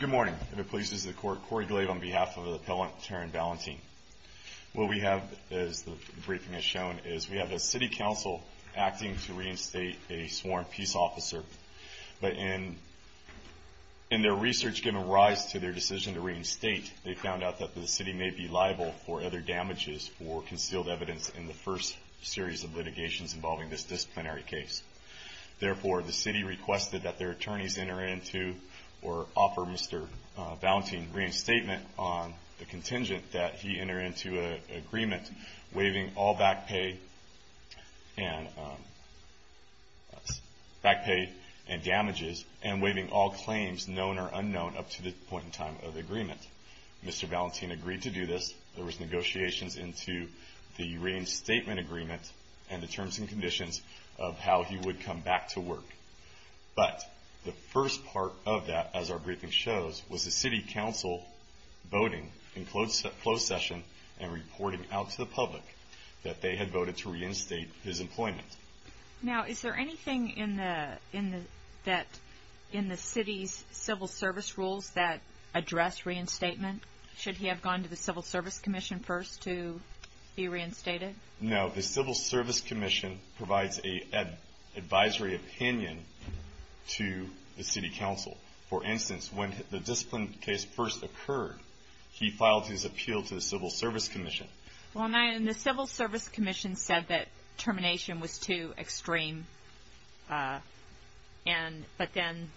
Good morning. The police is the court Corey Glave on behalf of the appellant Taryn Valentin. What we have as the briefing has shown is we have a city council acting to reinstate a sworn peace officer, but in their research given rise to their decision to reinstate, they found out that the city may be liable for other damages or concealed evidence in the first series of litigations involving this disciplinary case. Therefore, the city requested that their attorneys enter into or offer Mr. Valentin reinstatement on the contingent that he enter into an agreement waiving all back pay and damages and waiving all claims, known or unknown, up to the point in time of the agreement. Mr. Valentin agreed to do this. There was negotiations into the reinstatement agreement and the terms and conditions of how he would come back to work. But the first part of that, as our briefing shows, was the city council voting in closed session and reporting out to the public that they had voted to reinstate his employment. Now is there anything in the city's civil service rules that address reinstatement? Should he have gone to the civil service commission first to be reinstated? No. The civil service commission provides an advisory opinion to the city council. For instance, when the disciplinary case first occurred, he filed his appeal to the civil service commission. Well, and the civil service commission said that termination was too extreme, but then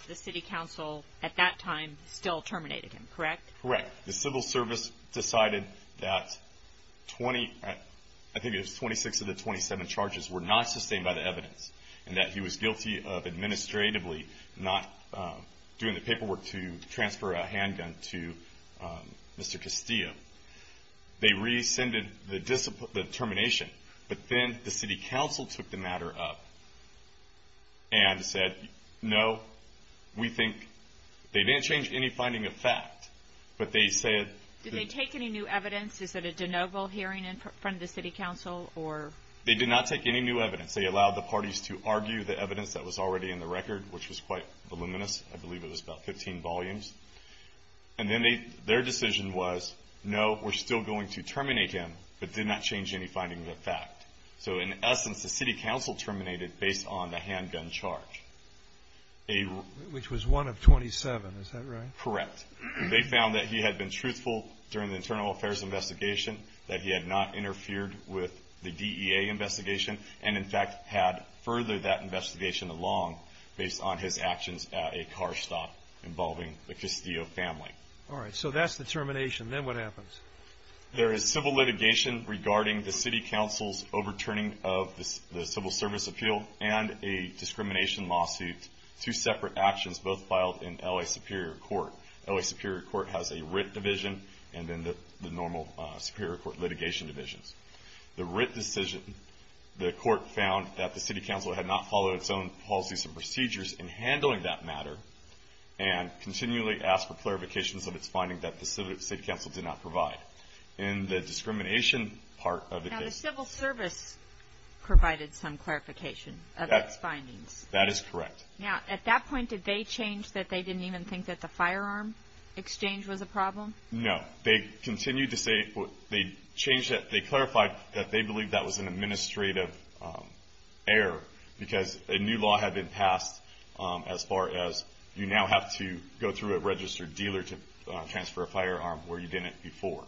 the city council at that time still terminated him, correct? Correct. The civil service decided that 26 of the 27 charges were not sustained by the evidence and that he was guilty of administratively not doing the paperwork to transfer a handgun to Mr. Castillo. They rescinded the termination, but then the city council took the matter up and said, no, we think they didn't change any finding of fact, but they said... Did they take any new evidence? Is it a de novo hearing in front of the city council? They did not take any new evidence. They allowed the parties to argue the evidence that was already in the record, which was quite voluminous. I believe it was about 15 volumes. And then their decision was, no, we're still going to terminate him, but did not change any finding of fact. So in essence, the city council terminated based on the handgun charge. Which was one of 27. Is that right? Correct. They found that he had been truthful during the internal affairs investigation, that he had not interfered with the DEA investigation, and in fact, had furthered that investigation along based on his actions at a car stop involving the Castillo family. All right. So that's the termination. Then what happens? There is civil litigation regarding the city council's overturning of the civil service appeal and a discrimination lawsuit, two separate actions, both filed in L.A. Superior Court. L.A. Superior Court has a writ division and then the normal Superior Court litigation divisions. The writ decision, the court found that the city council had not followed its own policies and procedures in handling that matter and continually asked for clarifications of its finding that the city council did not provide. In the discrimination part of the case. Now, the civil service provided some clarification of its findings. That is correct. Now, at that point, did they change that they didn't even think that the firearm exchange was a problem? No. They continued to say, they clarified that they believed that was an administrative error because a new law had been passed as far as you now have to go through a registered dealer to transfer a firearm where you didn't before.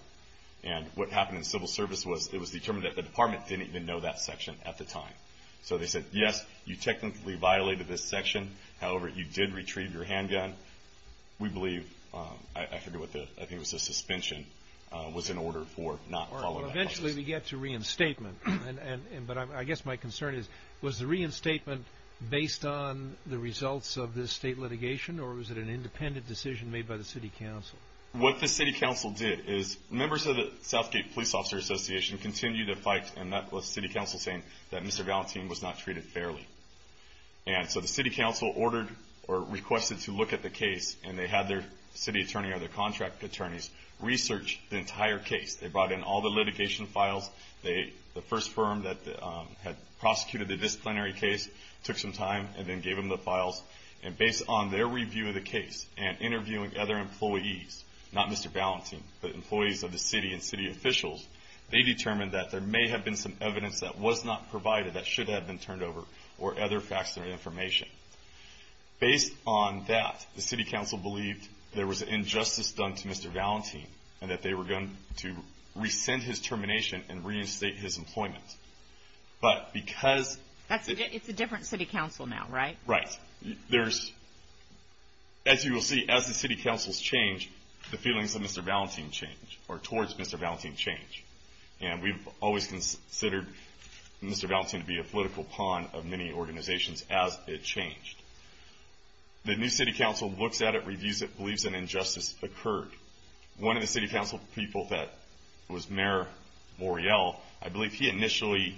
And what happened in civil service was it was determined that the department didn't even know that section at the time. So they said, yes, you technically violated this section. However, you did retrieve your handgun. We believe, I forget what the, I think it was a suspension, was in order for not following that process. Unfortunately, we get to reinstatement. But I guess my concern is, was the reinstatement based on the results of this state litigation or was it an independent decision made by the city council? What the city council did is members of the Southgate Police Officer Association continued to fight and that was city council saying that Mr. Valentin was not treated fairly. And so the city council ordered or requested to look at the case and they had their city attorney or their contract attorneys research the entire case. They brought in all the litigation files. The first firm that had prosecuted the disciplinary case took some time and then gave them the files. And based on their review of the case and interviewing other employees, not Mr. Valentin, but employees of the city and city officials, they determined that there may have been some evidence that was not provided that should have been turned over or other facts or information. Based on that, the city council believed there was an injustice done to Mr. Valentin and that they were going to rescind his termination and reinstate his employment. But because... It's a different city council now, right? Right. As you will see, as the city councils change, the feelings of Mr. Valentin change or towards Mr. Valentin change. And we've always considered Mr. Valentin to be a political pawn of many organizations as it changed. The new city council looks at it, reviews it, believes an injustice occurred. One of the city council people that was Mayor Morial, I believe he initially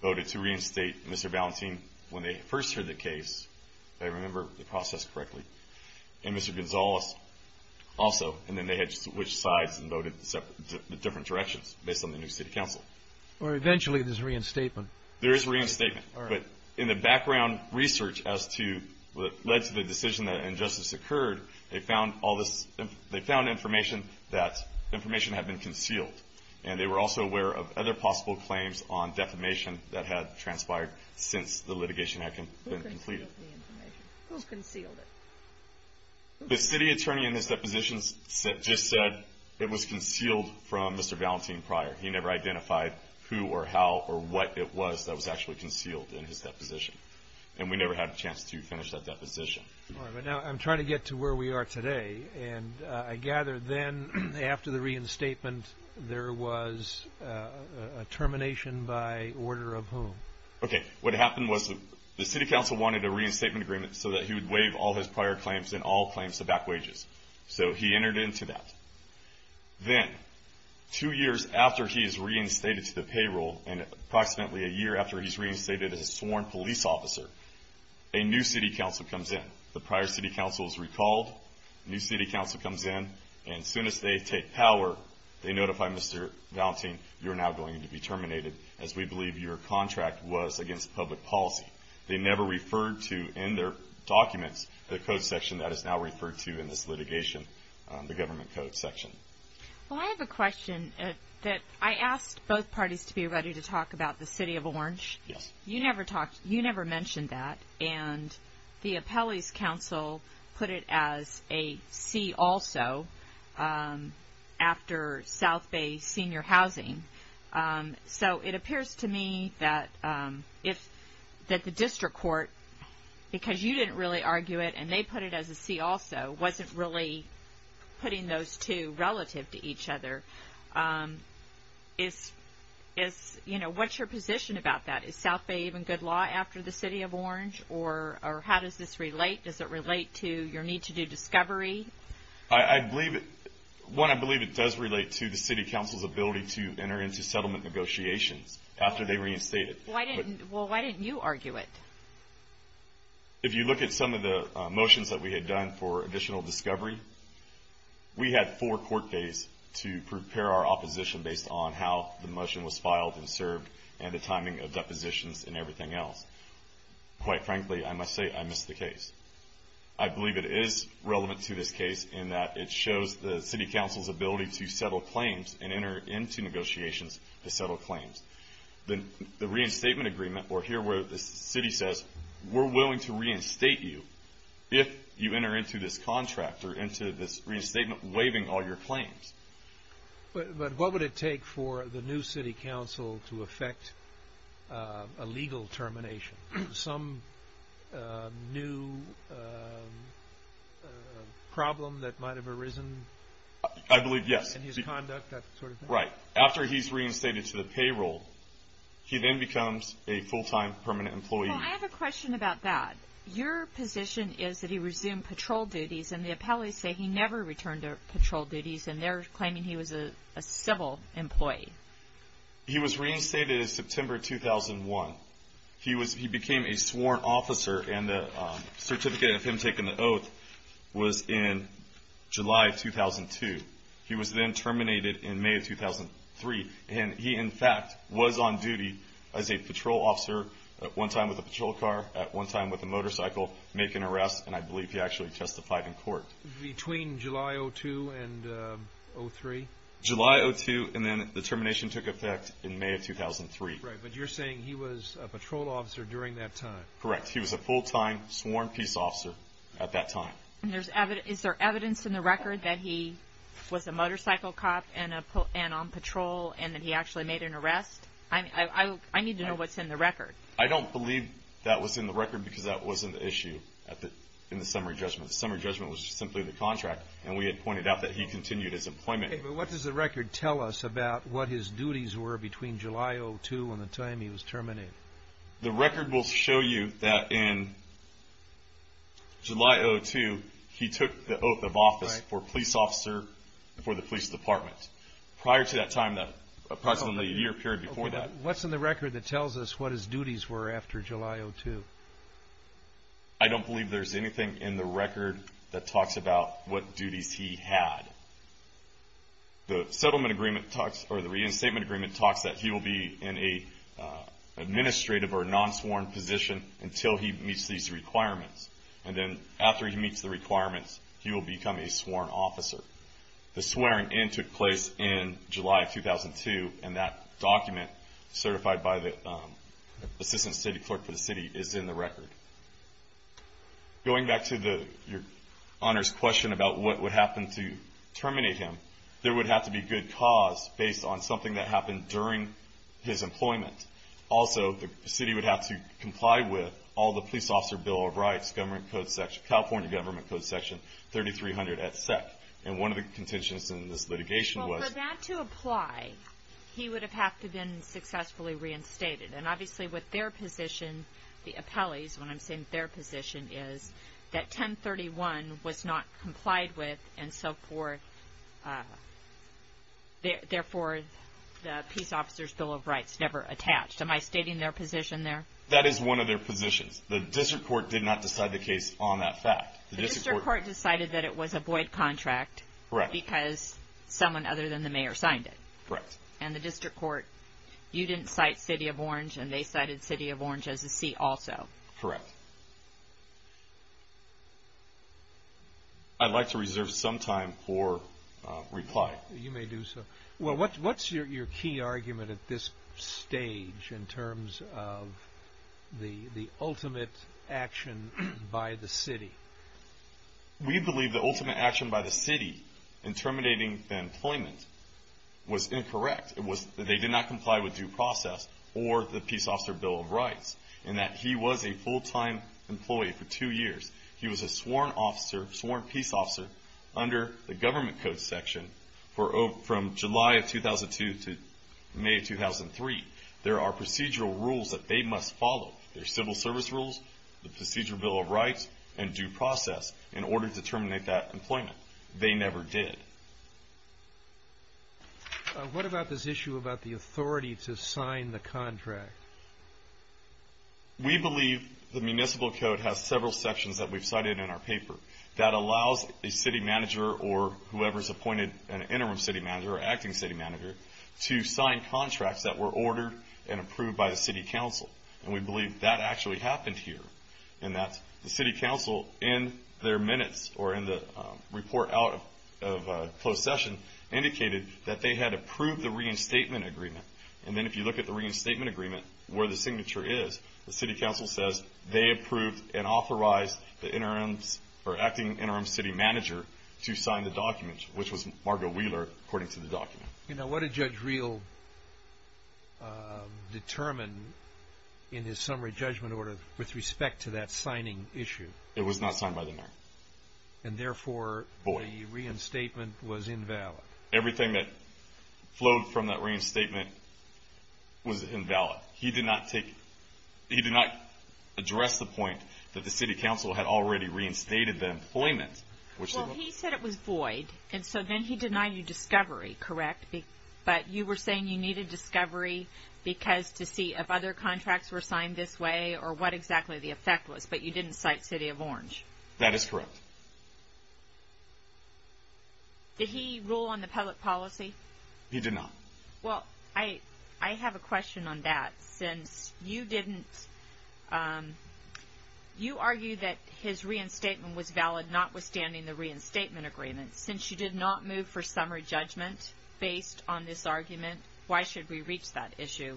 voted to reinstate Mr. Valentin when they first heard the case, if I remember the process correctly, and Mr. Gonzalez also. And then they had to switch sides and voted in different directions based on the new city council. Or eventually there's reinstatement. There is reinstatement. But in the background research as to what led to the decision that an injustice occurred, they found information that information had been concealed. And they were also aware of other possible claims on defamation that had transpired since the litigation had been completed. Who concealed the information? Who's concealed it? The city attorney in his depositions just said it was concealed from Mr. Valentin prior. He never identified who or how or what it was that was actually concealed in his deposition. And we never had a chance to finish that deposition. All right. But now I'm trying to get to where we are today. And I gather then after the reinstatement there was a termination by order of whom? Okay. What happened was the city council wanted a reinstatement agreement so that he would waive all his prior claims and all claims to back wages. So he entered into that. Then two years after he is reinstated to the payroll and approximately a year after he's reinstated as a sworn police officer, a new city council comes in. The prior city council is recalled. A new city council comes in. And as soon as they take power, they notify Mr. Valentin, you're now going to be terminated as we believe your contract was against public policy. They never referred to in their documents the code section that is now referred to in this litigation, the government code section. Well, I have a question that I asked both parties to be ready to talk about the City of Orange. Yes. You never mentioned that. And the appellee's council put it as a C also after South Bay Senior Housing. So it appears to me that the district court, because you didn't really argue it and they put it as a C also, wasn't really putting those two relative to each other. What's your position about that? Is South Bay even good law after the City of Orange? Or how does this relate? Does it relate to your need to do discovery? One, I believe it does relate to the city council's ability to enter into settlement negotiations after they reinstate it. Well, why didn't you argue it? If you look at some of the motions that we had done for additional discovery, we had four court days to prepare our opposition based on how the motion was filed and served and the timing of depositions and everything else. Quite frankly, I must say I missed the case. I believe it is relevant to this case in that it shows the city council's ability to settle claims and enter into negotiations to settle claims. The reinstatement agreement, or here where the city says we're willing to reinstate you if you enter into this contract or into this reinstatement waiving all your claims. But what would it take for the new city council to effect a legal termination? Some new problem that might have arisen? I believe, yes. In his conduct, that sort of thing? Right. After he's reinstated to the payroll, he then becomes a full-time permanent employee. Well, I have a question about that. Your position is that he resumed patrol duties, and the appellees say he never returned to patrol duties, and they're claiming he was a civil employee. He was reinstated in September 2001. He became a sworn officer, and the certificate of him taking the oath was in July 2002. He was then terminated in May of 2003, and he, in fact, was on duty as a patrol officer at one time with a patrol car, at one time with a motorcycle, making arrests, and I believe he actually testified in court. Between July 2002 and 2003? July 2002, and then the termination took effect in May of 2003. Right. But you're saying he was a patrol officer during that time. Correct. He was a full-time sworn peace officer at that time. Is there evidence in the record that he was a motorcycle cop and on patrol and that he actually made an arrest? I need to know what's in the record. I don't believe that was in the record because that wasn't the issue in the summary judgment. The summary judgment was simply the contract, and we had pointed out that he continued his employment. Okay, but what does the record tell us about what his duties were between July 2002 and the time he was terminated? The record will show you that in July 2002, he took the oath of office for police officer for the police department. Prior to that time, approximately a year period before that. What's in the record that tells us what his duties were after July 2002? I don't believe there's anything in the record that talks about what duties he had. The reinstatement agreement talks that he will be in an administrative or non-sworn position until he meets these requirements, and then after he meets the requirements, he will become a sworn officer. The swearing in took place in July 2002, and that document certified by the assistant city clerk for the city is in the record. Going back to your honor's question about what would happen to terminate him, there would have to be good cause based on something that happened during his employment. Also, the city would have to comply with all the police officer Bill of Rights, California Government Code Section 3300, et cetera. And one of the contentions in this litigation was – Well, for that to apply, he would have had to have been successfully reinstated. And obviously, with their position, the appellees, when I'm saying their position, is that 1031 was not complied with and so forth, therefore the police officer's Bill of Rights never attached. Am I stating their position there? That is one of their positions. The district court did not decide the case on that fact. The district court decided that it was a void contract because someone other than the mayor signed it. Correct. And the district court, you didn't cite City of Orange, and they cited City of Orange as a seat also. Correct. I'd like to reserve some time for reply. You may do so. Well, what's your key argument at this stage in terms of the ultimate action by the city? We believe the ultimate action by the city in terminating the employment was incorrect. It was that they did not comply with due process or the police officer Bill of Rights and that he was a full-time employee for two years. He was a sworn officer, sworn peace officer, under the government code section from July of 2002 to May of 2003. There are procedural rules that they must follow. There are civil service rules, the procedural Bill of Rights, and due process in order to terminate that employment. They never did. What about this issue about the authority to sign the contract? We believe the municipal code has several sections that we've cited in our paper that allows a city manager or whoever's appointed an interim city manager or acting city manager to sign contracts that were ordered and approved by the city council, and we believe that actually happened here, and that the city council in their minutes or in the report out of closed session indicated that they had approved the reinstatement agreement. And then if you look at the reinstatement agreement where the signature is, the city council says they approved and authorized the acting interim city manager to sign the document, which was Margo Wheeler, according to the document. You know, what did Judge Reel determine in his summary judgment order with respect to that signing issue? It was not signed by the mayor. And therefore the reinstatement was invalid. Everything that flowed from that reinstatement was invalid. He did not address the point that the city council had already reinstated the employment. Well, he said it was void, and so then he denied you discovery, correct? But you were saying you needed discovery because to see if other contracts were signed this way or what exactly the effect was, but you didn't cite City of Orange. That is correct. Did he rule on the public policy? He did not. Well, I have a question on that. Since you didn't, you argued that his reinstatement was valid notwithstanding the reinstatement agreement. Since you did not move for summary judgment based on this argument, why should we reach that issue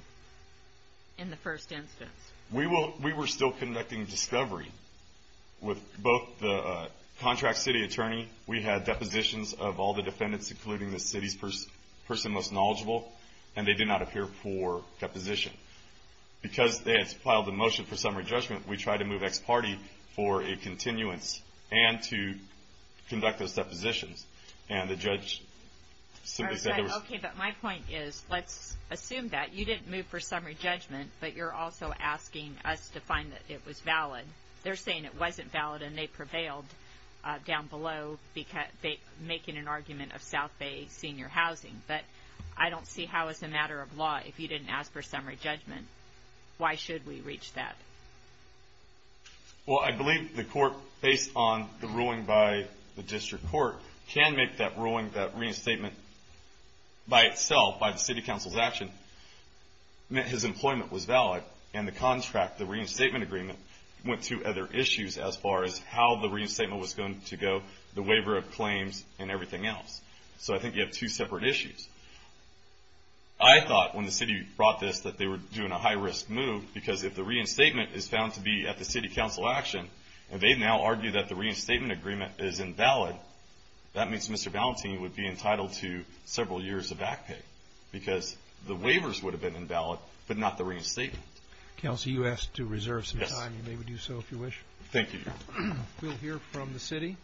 in the first instance? We were still conducting discovery with both the contract city attorney. We had depositions of all the defendants, including the city's person most knowledgeable, and they did not appear for deposition. Because they had filed a motion for summary judgment, we tried to move ex parte for a continuance and to conduct those depositions. And the judge simply said it was – Okay, but my point is let's assume that. You didn't move for summary judgment, but you're also asking us to find that it was valid. They're saying it wasn't valid and they prevailed down below making an argument of South Bay senior housing. But I don't see how as a matter of law if you didn't ask for summary judgment. Why should we reach that? Well, I believe the court, based on the ruling by the district court, can make that ruling that reinstatement by itself, by the city council's action, meant his employment was valid. And the contract, the reinstatement agreement, went to other issues as far as how the reinstatement was going to go, the waiver of claims, and everything else. So I think you have two separate issues. I thought when the city brought this that they were doing a high-risk move because if the reinstatement is found to be at the city council action and they now argue that the reinstatement agreement is invalid, that means Mr. Valentini would be entitled to several years of back pay because the waivers would have been invalid but not the reinstatement. Counsel, you asked to reserve some time. You may do so if you wish. Thank you. We'll hear from the city.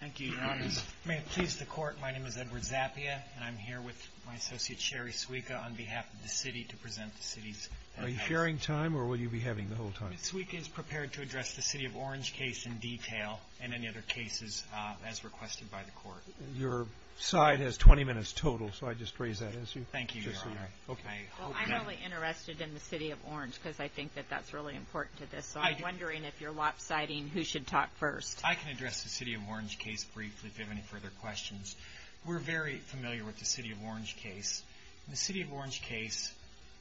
Thank you, Your Honor. May it please the court, my name is Edward Zappia, and I'm here with my associate, Sherry Suica, on behalf of the city to present the city's request. Are you sharing time or will you be having the whole time? Ms. Suica is prepared to address the City of Orange case in detail and any other cases as requested by the court. Your side has 20 minutes total, so I just raise that issue. Thank you, Your Honor. I'm really interested in the City of Orange because I think that that's really important to this, so I'm wondering if you're lopsiding who should talk first. I can address the City of Orange case briefly if you have any further questions. We're very familiar with the City of Orange case. The City of Orange case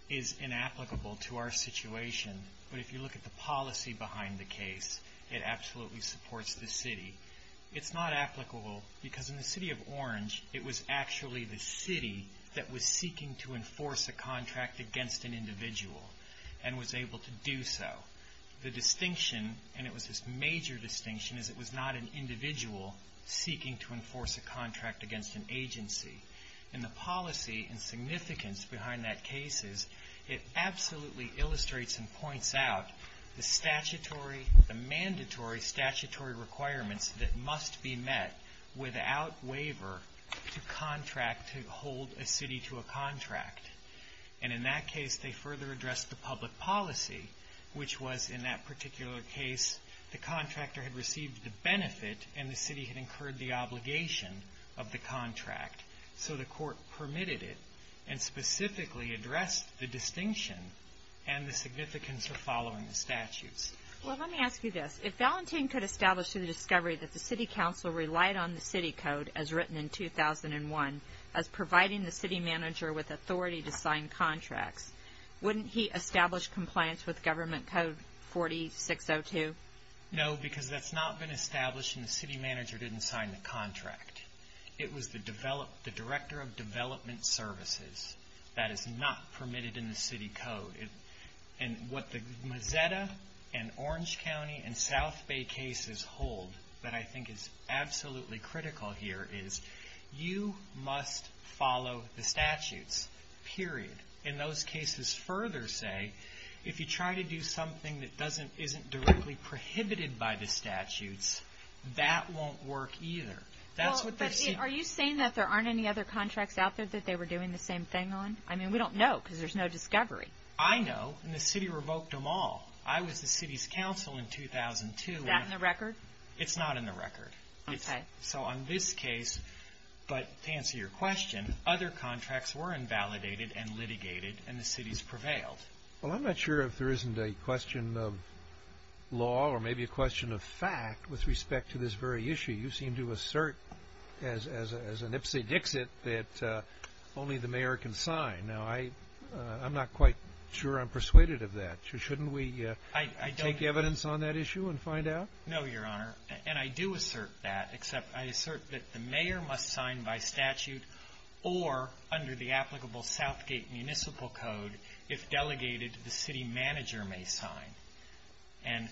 is inapplicable to our situation, but if you look at the policy behind the case, it absolutely supports the city. It's not applicable because in the City of Orange, it was actually the city that was seeking to enforce a contract against an individual and was able to do so. The distinction, and it was this major distinction, is it was not an individual seeking to enforce a contract against an agency. In the policy and significance behind that case, it absolutely illustrates and points out the statutory, the mandatory statutory requirements that must be met without waiver to contract, to hold a city to a contract. And in that case, they further addressed the public policy, which was in that particular case the contractor had received the benefit and the city had incurred the obligation of the contract. So the court permitted it and specifically addressed the distinction and the significance of following the statutes. Well, let me ask you this. If Valentin could establish through the discovery that the city council relied on the city code, as written in 2001, as providing the city manager with authority to sign contracts, wouldn't he establish compliance with Government Code 4602? No, because that's not been established and the city manager didn't sign the contract. It was the director of development services. That is not permitted in the city code. And what the Mazetta and Orange County and South Bay cases hold that I think is absolutely critical here is you must follow the statutes, period. In those cases further say, if you try to do something that isn't directly prohibited by the statutes, that won't work either. Are you saying that there aren't any other contracts out there that they were doing the same thing on? I mean, we don't know because there's no discovery. I know, and the city revoked them all. I was the city's council in 2002. Is that in the record? It's not in the record. Okay. So on this case, but to answer your question, other contracts were invalidated and litigated, and the cities prevailed. Well, I'm not sure if there isn't a question of law or maybe a question of fact with respect to this very issue. You seem to assert as an Ipsy Dixit that only the mayor can sign. Now, I'm not quite sure I'm persuaded of that. Shouldn't we take evidence on that issue and find out? No, Your Honor, and I do assert that, except I assert that the mayor must sign by statute or under the applicable Southgate municipal code. If delegated, the city manager may sign.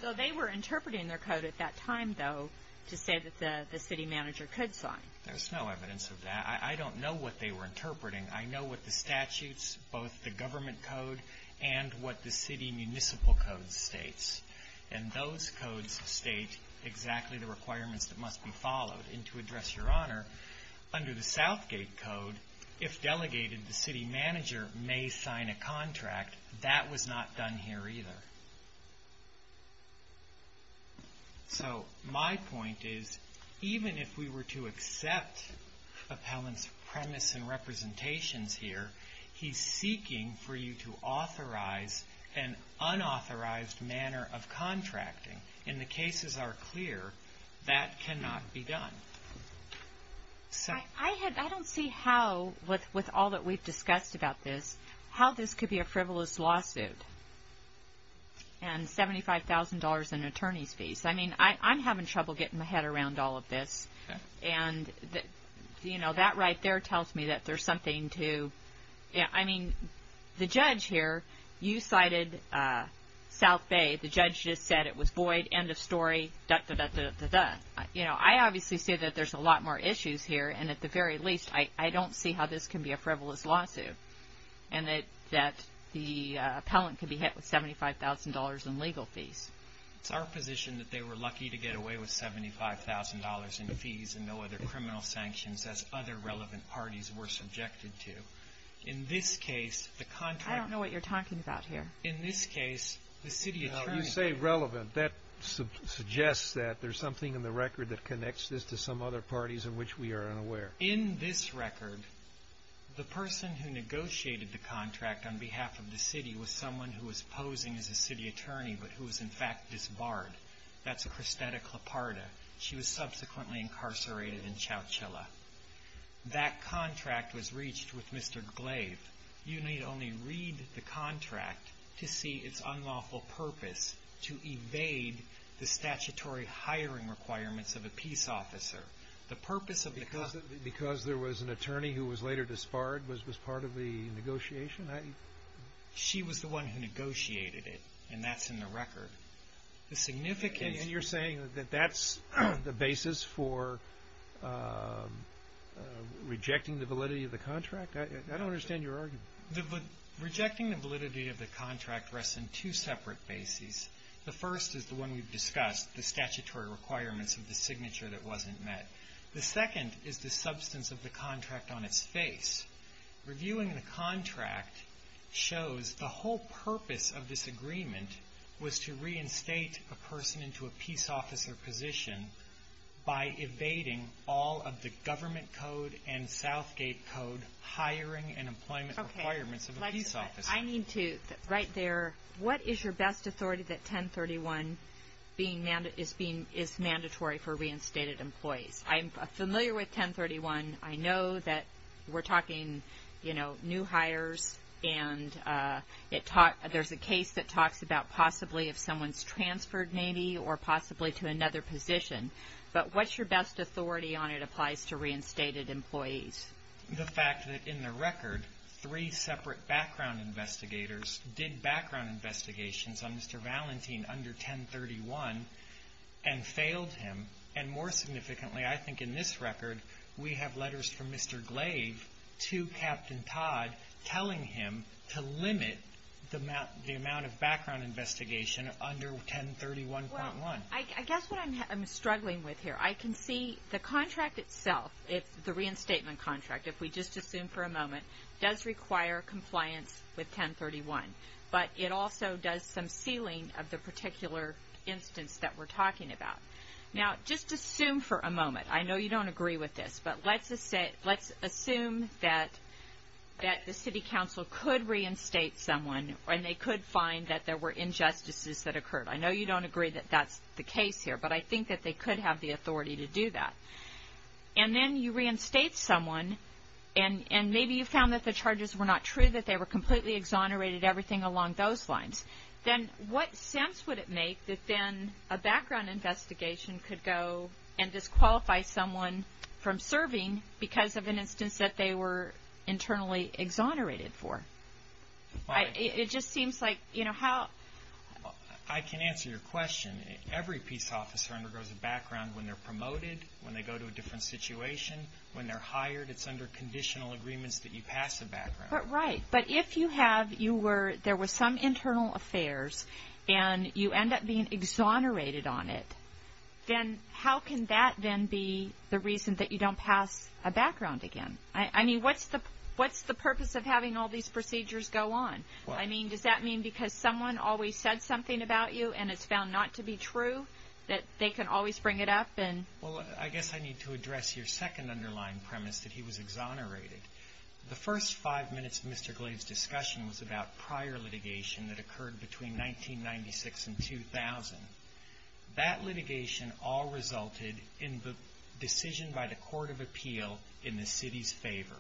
So they were interpreting their code at that time, though, to say that the city manager could sign. There's no evidence of that. I don't know what they were interpreting. I know what the statutes, both the government code and what the city municipal code states, and those codes state exactly the requirements that must be followed. And to address Your Honor, under the Southgate code, if delegated, the city manager may sign a contract. That was not done here either. So my point is, even if we were to accept appellant's premise and representations here, he's seeking for you to authorize an unauthorized manner of contracting. And the cases are clear that cannot be done. I don't see how, with all that we've discussed about this, how this could be a frivolous lawsuit and $75,000 in attorney's fees. I mean, I'm having trouble getting my head around all of this. And, you know, that right there tells me that there's something to – I mean, the judge here, you cited South Bay. The judge just said it was void, end of story, da-da-da-da-da-da. You know, I obviously see that there's a lot more issues here, and at the very least I don't see how this can be a frivolous lawsuit and that the appellant can be hit with $75,000 in legal fees. It's our position that they were lucky to get away with $75,000 in fees and no other criminal sanctions as other relevant parties were subjected to. In this case, the contract – I don't know what you're talking about here. In this case, the city attorney – You say relevant. That suggests that there's something in the record that connects this to some other parties in which we are unaware. In this record, the person who negotiated the contract on behalf of the city was someone who was posing as a city attorney but who was in fact disbarred. That's Christetta Cloparda. She was subsequently incarcerated in Chowchilla. That contract was reached with Mr. Glaive. You need only read the contract to see its unlawful purpose to evade the statutory hiring requirements of a peace officer. The purpose of the – Because there was an attorney who was later disbarred was part of the negotiation? She was the one who negotiated it, and that's in the record. The significance – And you're saying that that's the basis for rejecting the validity of the contract? I don't understand your argument. Rejecting the validity of the contract rests on two separate bases. The first is the one we've discussed, the statutory requirements of the signature that wasn't met. The second is the substance of the contract on its face. Reviewing the contract shows the whole purpose of this agreement was to reinstate a person into a peace officer position by evading all of the government code and Southgate code hiring and employment requirements of a peace officer. I need to – right there. What is your best authority that 1031 is mandatory for reinstated employees? I'm familiar with 1031. I know that we're talking, you know, new hires, and there's a case that talks about possibly if someone's transferred maybe or possibly to another position. But what's your best authority on it applies to reinstated employees? The fact that in the record, three separate background investigators did background investigations on Mr. Valentin under 1031 and failed him. And more significantly, I think in this record, we have letters from Mr. Glaive to Captain Todd telling him to limit the amount of background investigation under 1031.1. I guess what I'm struggling with here, I can see the contract itself, the reinstatement contract, if we just assume for a moment, does require compliance with 1031. But it also does some sealing of the particular instance that we're talking about. Now, just assume for a moment, I know you don't agree with this, but let's assume that the city council could reinstate someone and they could find that there were injustices that occurred. I know you don't agree that that's the case here, but I think that they could have the authority to do that. And then you reinstate someone, and maybe you found that the charges were not true, that they were completely exonerated, everything along those lines. Then what sense would it make that then a background investigation could go and disqualify someone from serving because of an instance that they were internally exonerated for? It just seems like, you know, how... I can answer your question. Every peace officer undergoes a background when they're promoted, when they go to a different situation, when they're hired. It's under conditional agreements that you pass a background. Right. But if you have, you were, there were some internal affairs, and you end up being exonerated on it, then how can that then be the reason that you don't pass a background again? I mean, what's the purpose of having all these procedures go on? I mean, does that mean because someone always said something about you and it's found not to be true that they can always bring it up and... Well, I guess I need to address your second underlying premise, that he was exonerated. The first five minutes of Mr. Glave's discussion was about prior litigation that occurred between 1996 and 2000. That litigation all resulted in the decision by the Court of Appeal in the city's favor.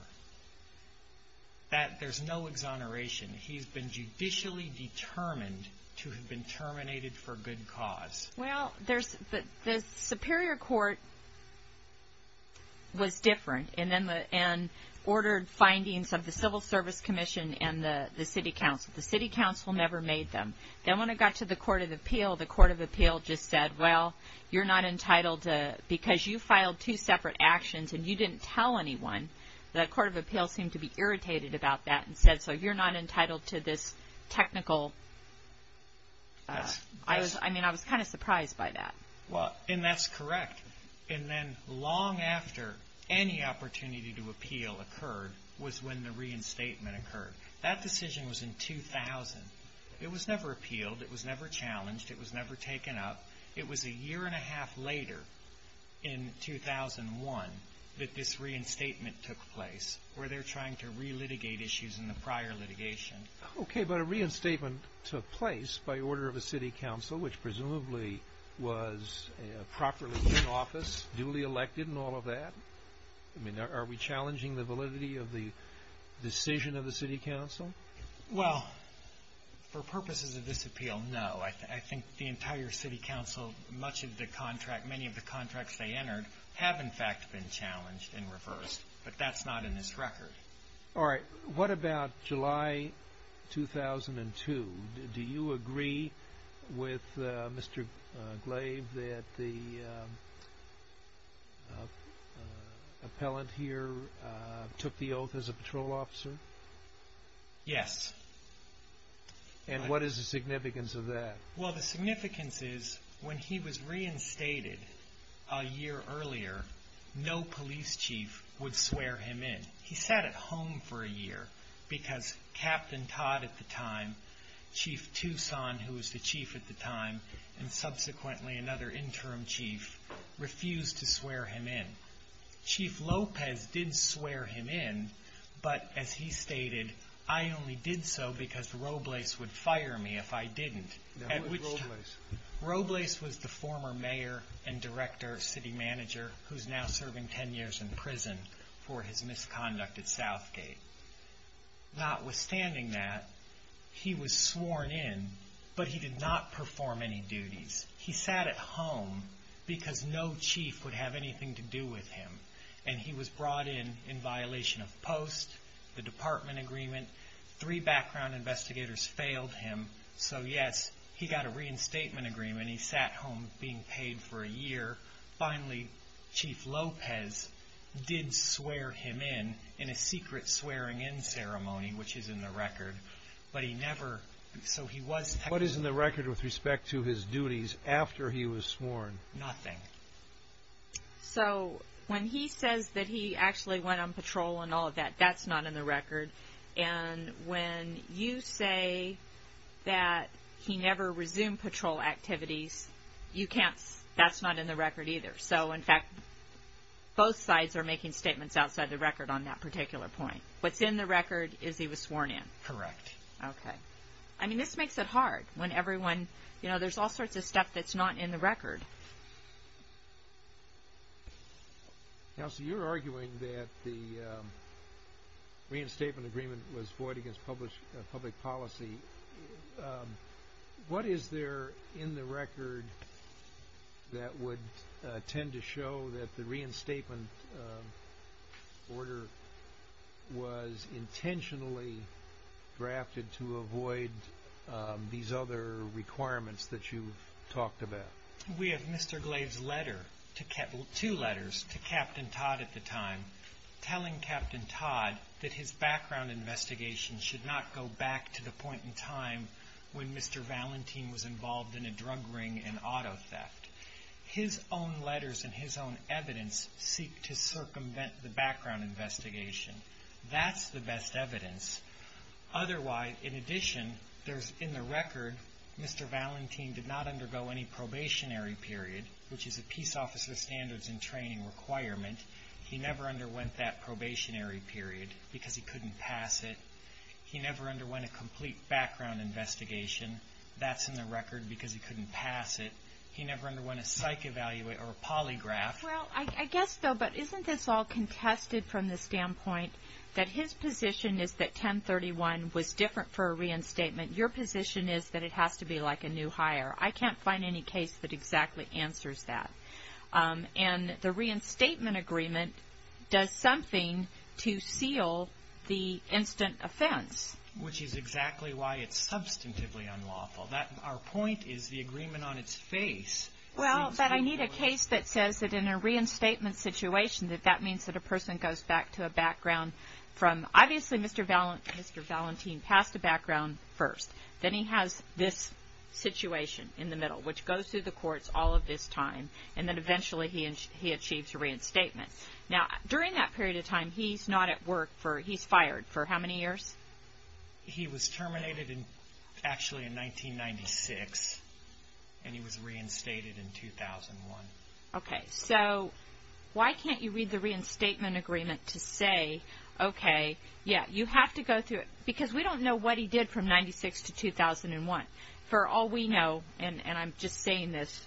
There's no exoneration. He's been judicially determined to have been terminated for good cause. Well, the Superior Court was different and ordered findings of the Civil Service Commission and the City Council. The City Council never made them. Then when it got to the Court of Appeal, the Court of Appeal just said, well, you're not entitled to... because you filed two separate actions and you didn't tell anyone, the Court of Appeal seemed to be irritated about that and said, so you're not entitled to this technical... I mean, I was kind of surprised by that. And that's correct. And then long after any opportunity to appeal occurred was when the reinstatement occurred. That decision was in 2000. It was never appealed. It was never challenged. It was never taken up. It was a year and a half later, in 2001, that this reinstatement took place where they're trying to relitigate issues in the prior litigation. Okay, but a reinstatement took place by order of the City Council, which presumably was properly in office, duly elected and all of that. I mean, are we challenging the validity of the decision of the City Council? Well, for purposes of this appeal, no. I think the entire City Council, much of the contract, many of the contracts they entered have, in fact, been challenged and reversed. But that's not in this record. All right. What about July 2002? Do you agree with Mr. Glaive that the appellant here took the oath as a patrol officer? Yes. And what is the significance of that? Well, the significance is when he was reinstated a year earlier, no police chief would swear him in. He sat at home for a year because Captain Todd at the time, Chief Toussaint, who was the chief at the time, and subsequently another interim chief, refused to swear him in. Chief Lopez did swear him in, but as he stated, I only did so because Robles would fire me if I didn't. Who was Robles? Robles was the former mayor and director, city manager, who's now serving 10 years in prison for his misconduct at Southgate. Notwithstanding that, he was sworn in, but he did not perform any duties. He sat at home because no chief would have anything to do with him, and he was brought in in violation of post, the department agreement. Three background investigators failed him, so yes, he got a reinstatement agreement. He sat home being paid for a year. Finally, Chief Lopez did swear him in, in a secret swearing-in ceremony, which is in the record, but he never... What is in the record with respect to his duties after he was sworn? Nothing. So when he says that he actually went on patrol and all of that, that's not in the record, and when you say that he never resumed patrol activities, that's not in the record either. So, in fact, both sides are making statements outside the record on that particular point. What's in the record is he was sworn in. Correct. Okay. I mean, this makes it hard when everyone... You know, there's all sorts of stuff that's not in the record. Counsel, you were arguing that the reinstatement agreement was void against public policy. What is there in the record that would tend to show that the reinstatement order was intentionally drafted to avoid these other requirements that you've talked about? We have Mr. Glade's letter, two letters, to Captain Todd at the time, telling Captain Todd that his background investigation should not go back to the point in time when Mr. Valentin was involved in a drug ring and auto theft. His own letters and his own evidence seek to circumvent the background investigation. That's the best evidence. In addition, in the record, Mr. Valentin did not undergo any probationary period, which is a Peace Officer Standards and Training requirement. He never underwent that probationary period because he couldn't pass it. He never underwent a complete background investigation. That's in the record because he couldn't pass it. He never underwent a psych evaluate or a polygraph. Well, I guess, though, but isn't this all contested from the standpoint that his position is that 1031 was different for a reinstatement? Your position is that it has to be like a new hire. I can't find any case that exactly answers that. And the reinstatement agreement does something to seal the instant offense. Which is exactly why it's substantively unlawful. Our point is the agreement on its face. Well, but I need a case that says that in a reinstatement situation that that means that a person goes back to a background from, obviously, Mr. Valentin passed a background first. Then he has this situation in the middle, which goes through the courts all of this time. And then, eventually, he achieves a reinstatement. Now, during that period of time, he's not at work. He's fired for how many years? He was terminated, actually, in 1996. And he was reinstated in 2001. Okay, so why can't you read the reinstatement agreement to say, okay, yeah, you have to go through it. Because we don't know what he did from 96 to 2001. For all we know, and I'm just saying this,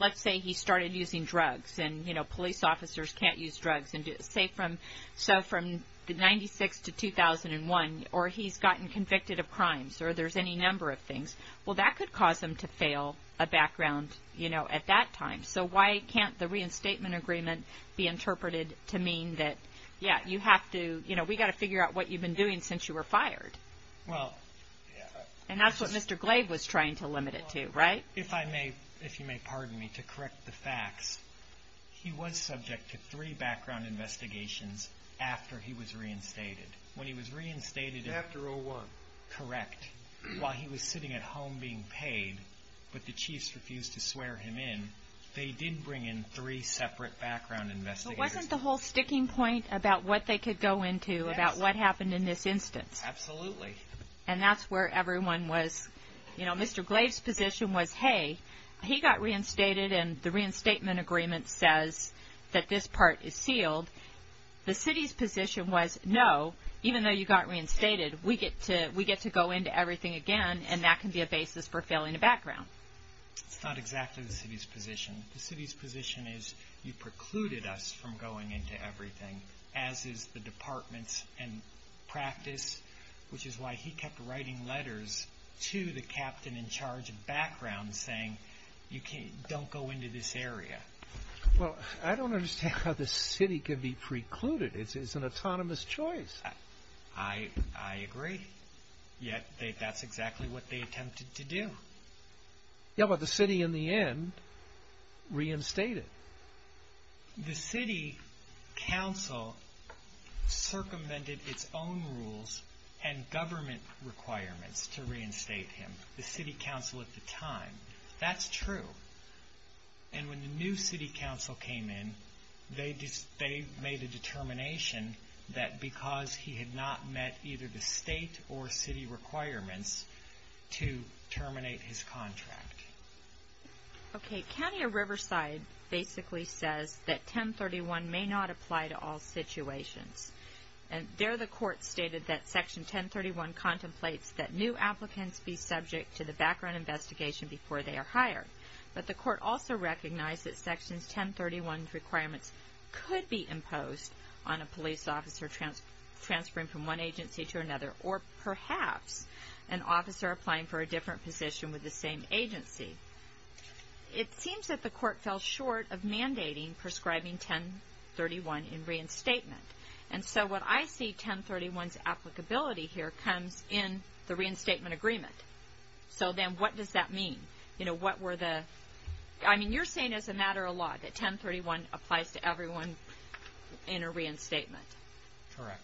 let's say he started using drugs and police officers can't use drugs. So from 96 to 2001, or he's gotten convicted of crimes, or there's any number of things. Well, that could cause him to fail a background at that time. So why can't the reinstatement agreement be interpreted to mean that, yeah, we've got to figure out what you've been doing since you were fired. And that's what Mr. Glave was trying to limit it to, right? If I may, if you may pardon me, to correct the facts, he was subject to three background investigations after he was reinstated. When he was reinstated, correct, while he was sitting at home being paid, but the chiefs refused to swear him in, they did bring in three separate background investigators. So wasn't the whole sticking point about what they could go into, about what happened in this instance? Absolutely. And that's where everyone was, you know, Mr. Glave's position was, hey, he got reinstated and the reinstatement agreement says that this part is sealed. The city's position was, no, even though you got reinstated, we get to go into everything again, and that can be a basis for failing a background. It's not exactly the city's position. The city's position is you precluded us from going into everything, as is the department's practice, which is why he kept writing letters to the captain in charge of background saying don't go into this area. Well, I don't understand how the city could be precluded. It's an autonomous choice. I agree. Yet that's exactly what they attempted to do. Yeah, but the city in the end reinstated. The city council circumvented its own rules and government requirements to reinstate him, the city council at the time. That's true. And when the new city council came in, they made a determination that because he had not met either the state or city requirements to terminate his contract. Okay. County of Riverside basically says that 1031 may not apply to all situations. There the court stated that Section 1031 contemplates that new applicants be subject to the background investigation before they are hired. But the court also recognized that Section 1031's requirements could be imposed on a police officer transferring from one agency to another or perhaps an officer applying for a different position with the same agency. It seems that the court fell short of mandating prescribing 1031 in reinstatement. And so what I see 1031's applicability here comes in the reinstatement agreement. So then what does that mean? You know, what were the – I mean, you're saying as a matter of law that 1031 applies to everyone in a reinstatement. Correct.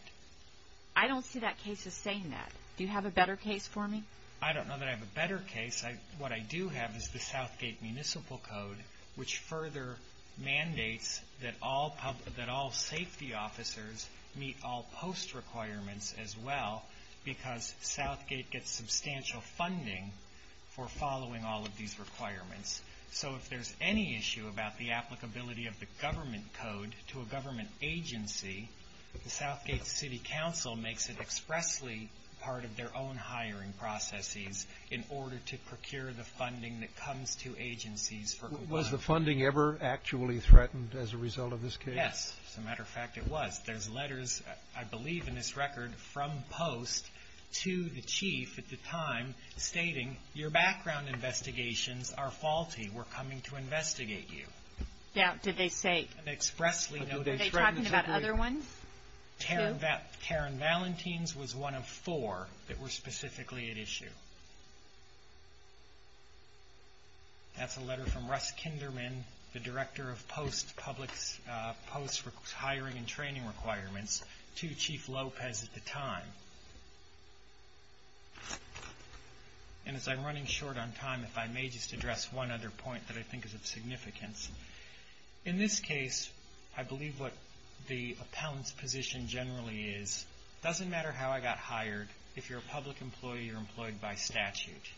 I don't see that case as saying that. Do you have a better case for me? I don't know that I have a better case. What I do have is the Southgate Municipal Code, which further mandates that all safety officers meet all post requirements as well because Southgate gets substantial funding for following all of these requirements. So if there's any issue about the applicability of the government code to a government agency, the Southgate City Council makes it expressly part of their own hiring processes in order to procure the funding that comes to agencies for compliance. Was the funding ever actually threatened as a result of this case? Yes. As a matter of fact, it was. There's letters, I believe in this record, from post to the chief at the time stating, your background investigations are faulty. We're coming to investigate you. Now, did they say – Karen Valentines was one of four that were specifically at issue. That's a letter from Russ Kinderman, the director of post hiring and training requirements to Chief Lopez at the time. And as I'm running short on time, if I may just address one other point that I think is of significance. In this case, I believe what the appellant's position generally is, it doesn't matter how I got hired, if you're a public employee, you're employed by statute.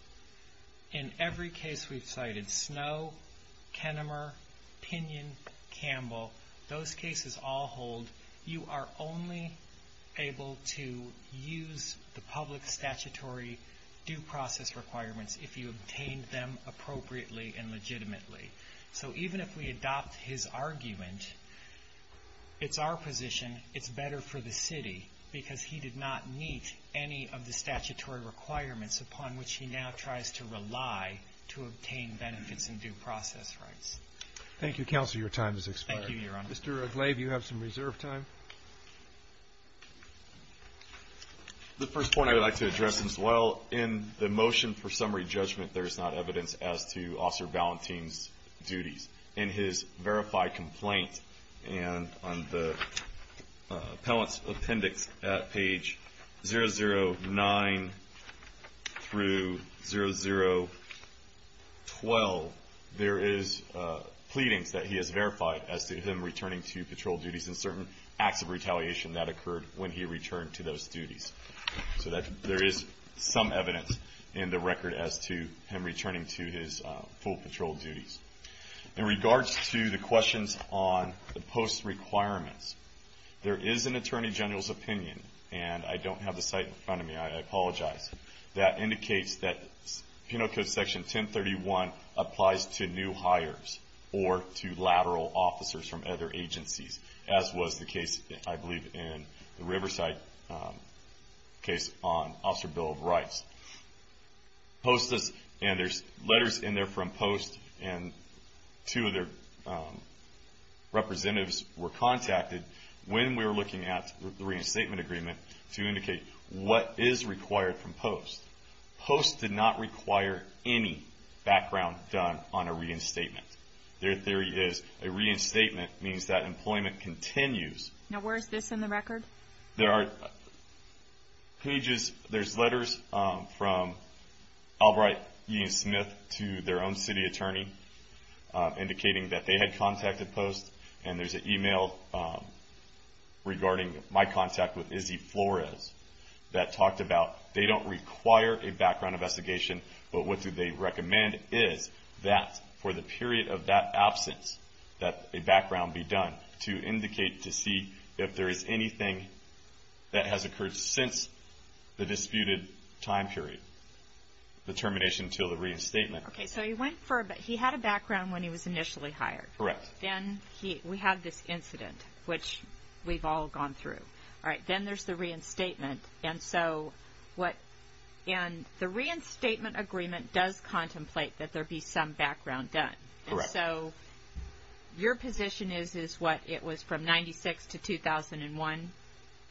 In every case we've cited, Snow, Kenimer, Pinion, Campbell, those cases all hold, you are only able to use the public statutory due process requirements if you obtained them appropriately and legitimately. So even if we adopt his argument, it's our position, it's better for the city, because he did not meet any of the statutory requirements upon which he now tries to rely to obtain benefits and due process rights. Thank you, Counselor, your time has expired. Thank you, Your Honor. Mr. Aglaive, you have some reserve time. The first point I would like to address as well, in the motion for summary judgment, there is not evidence as to Officer Valentin's duties. In his verified complaint, and on the appellant's appendix at page 009 through 0012, there is pleadings that he has verified as to him returning to patrol duties and certain acts of retaliation that occurred when he returned to those duties. So there is some evidence in the record as to him returning to his full patrol duties. In regards to the questions on the post requirements, there is an Attorney General's opinion, and I don't have the site in front of me, I apologize, that indicates that Penal Code Section 1031 applies to new hires or to lateral officers from other agencies, as was the case, I believe, in the Riverside case on Officer Bill of Rights. There are letters in there from POST, and two of their representatives were contacted when we were looking at the reinstatement agreement to indicate what is required from POST. POST did not require any background done on a reinstatement. Their theory is a reinstatement means that employment continues. Now where is this in the record? There are pages, there's letters from Albright, E. Smith, to their own city attorney indicating that they had contacted POST, and there's an email regarding my contact with Izzy Flores that talked about they don't require a background investigation, but what do they recommend is that for the period of that absence that a background be done to indicate to see if there is anything that has occurred since the disputed time period, the termination until the reinstatement. Okay, so he had a background when he was initially hired. Correct. Then we have this incident, which we've all gone through. Then there's the reinstatement, and the reinstatement agreement does contemplate that there be some background done. Correct. So your position is it was from 1996 to 2001?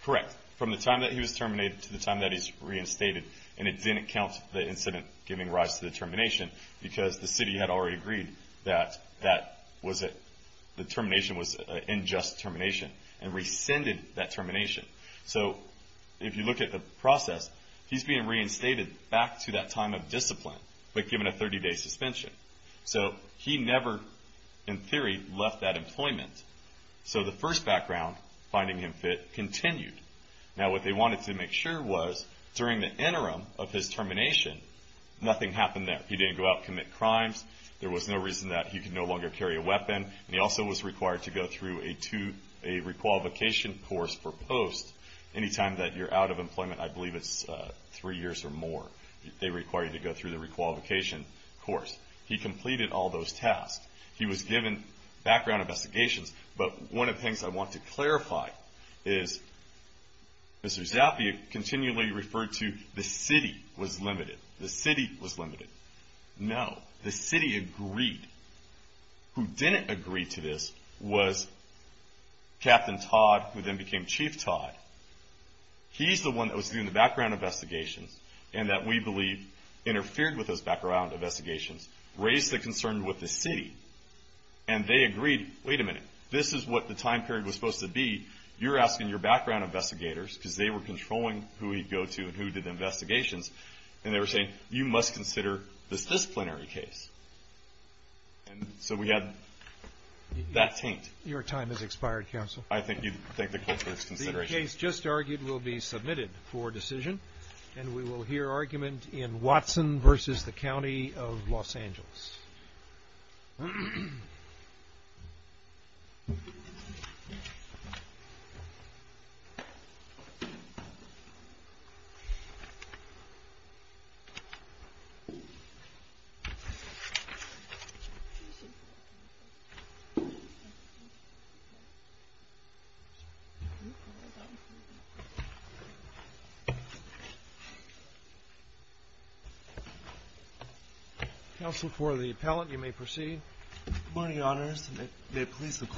Correct. From the time that he was terminated to the time that he's reinstated, and it didn't count the incident giving rise to the termination because the city had already agreed that the termination was an unjust termination and rescinded that termination. So if you look at the process, he's being reinstated back to that time of discipline, but given a 30-day suspension. So he never, in theory, left that employment. So the first background, finding him fit, continued. Now what they wanted to make sure was during the interim of his termination, nothing happened there. He didn't go out and commit crimes. There was no reason that he could no longer carry a weapon, and he also was required to go through a requalification course for post. Any time that you're out of employment, I believe it's three years or more, they require you to go through the requalification course. He completed all those tasks. He was given background investigations, but one of the things I want to clarify is Mr. Zappia continually referred to the city was limited. The city was limited. No, the city agreed. Who didn't agree to this was Captain Todd, who then became Chief Todd. He's the one that was doing the background investigations and that we believe interfered with those background investigations, raised the concern with the city, and they agreed, wait a minute, this is what the time period was supposed to be. You're asking your background investigators, because they were controlling who he'd go to and who did the investigations, and they were saying you must consider this disciplinary case. So we had that taint. Your time has expired, Counsel. I thank the Court for its consideration. The case just argued will be submitted for decision, and we will hear argument in Watson versus the County of Los Angeles. Thank you, Counsel. Counsel, for the appellant, you may proceed.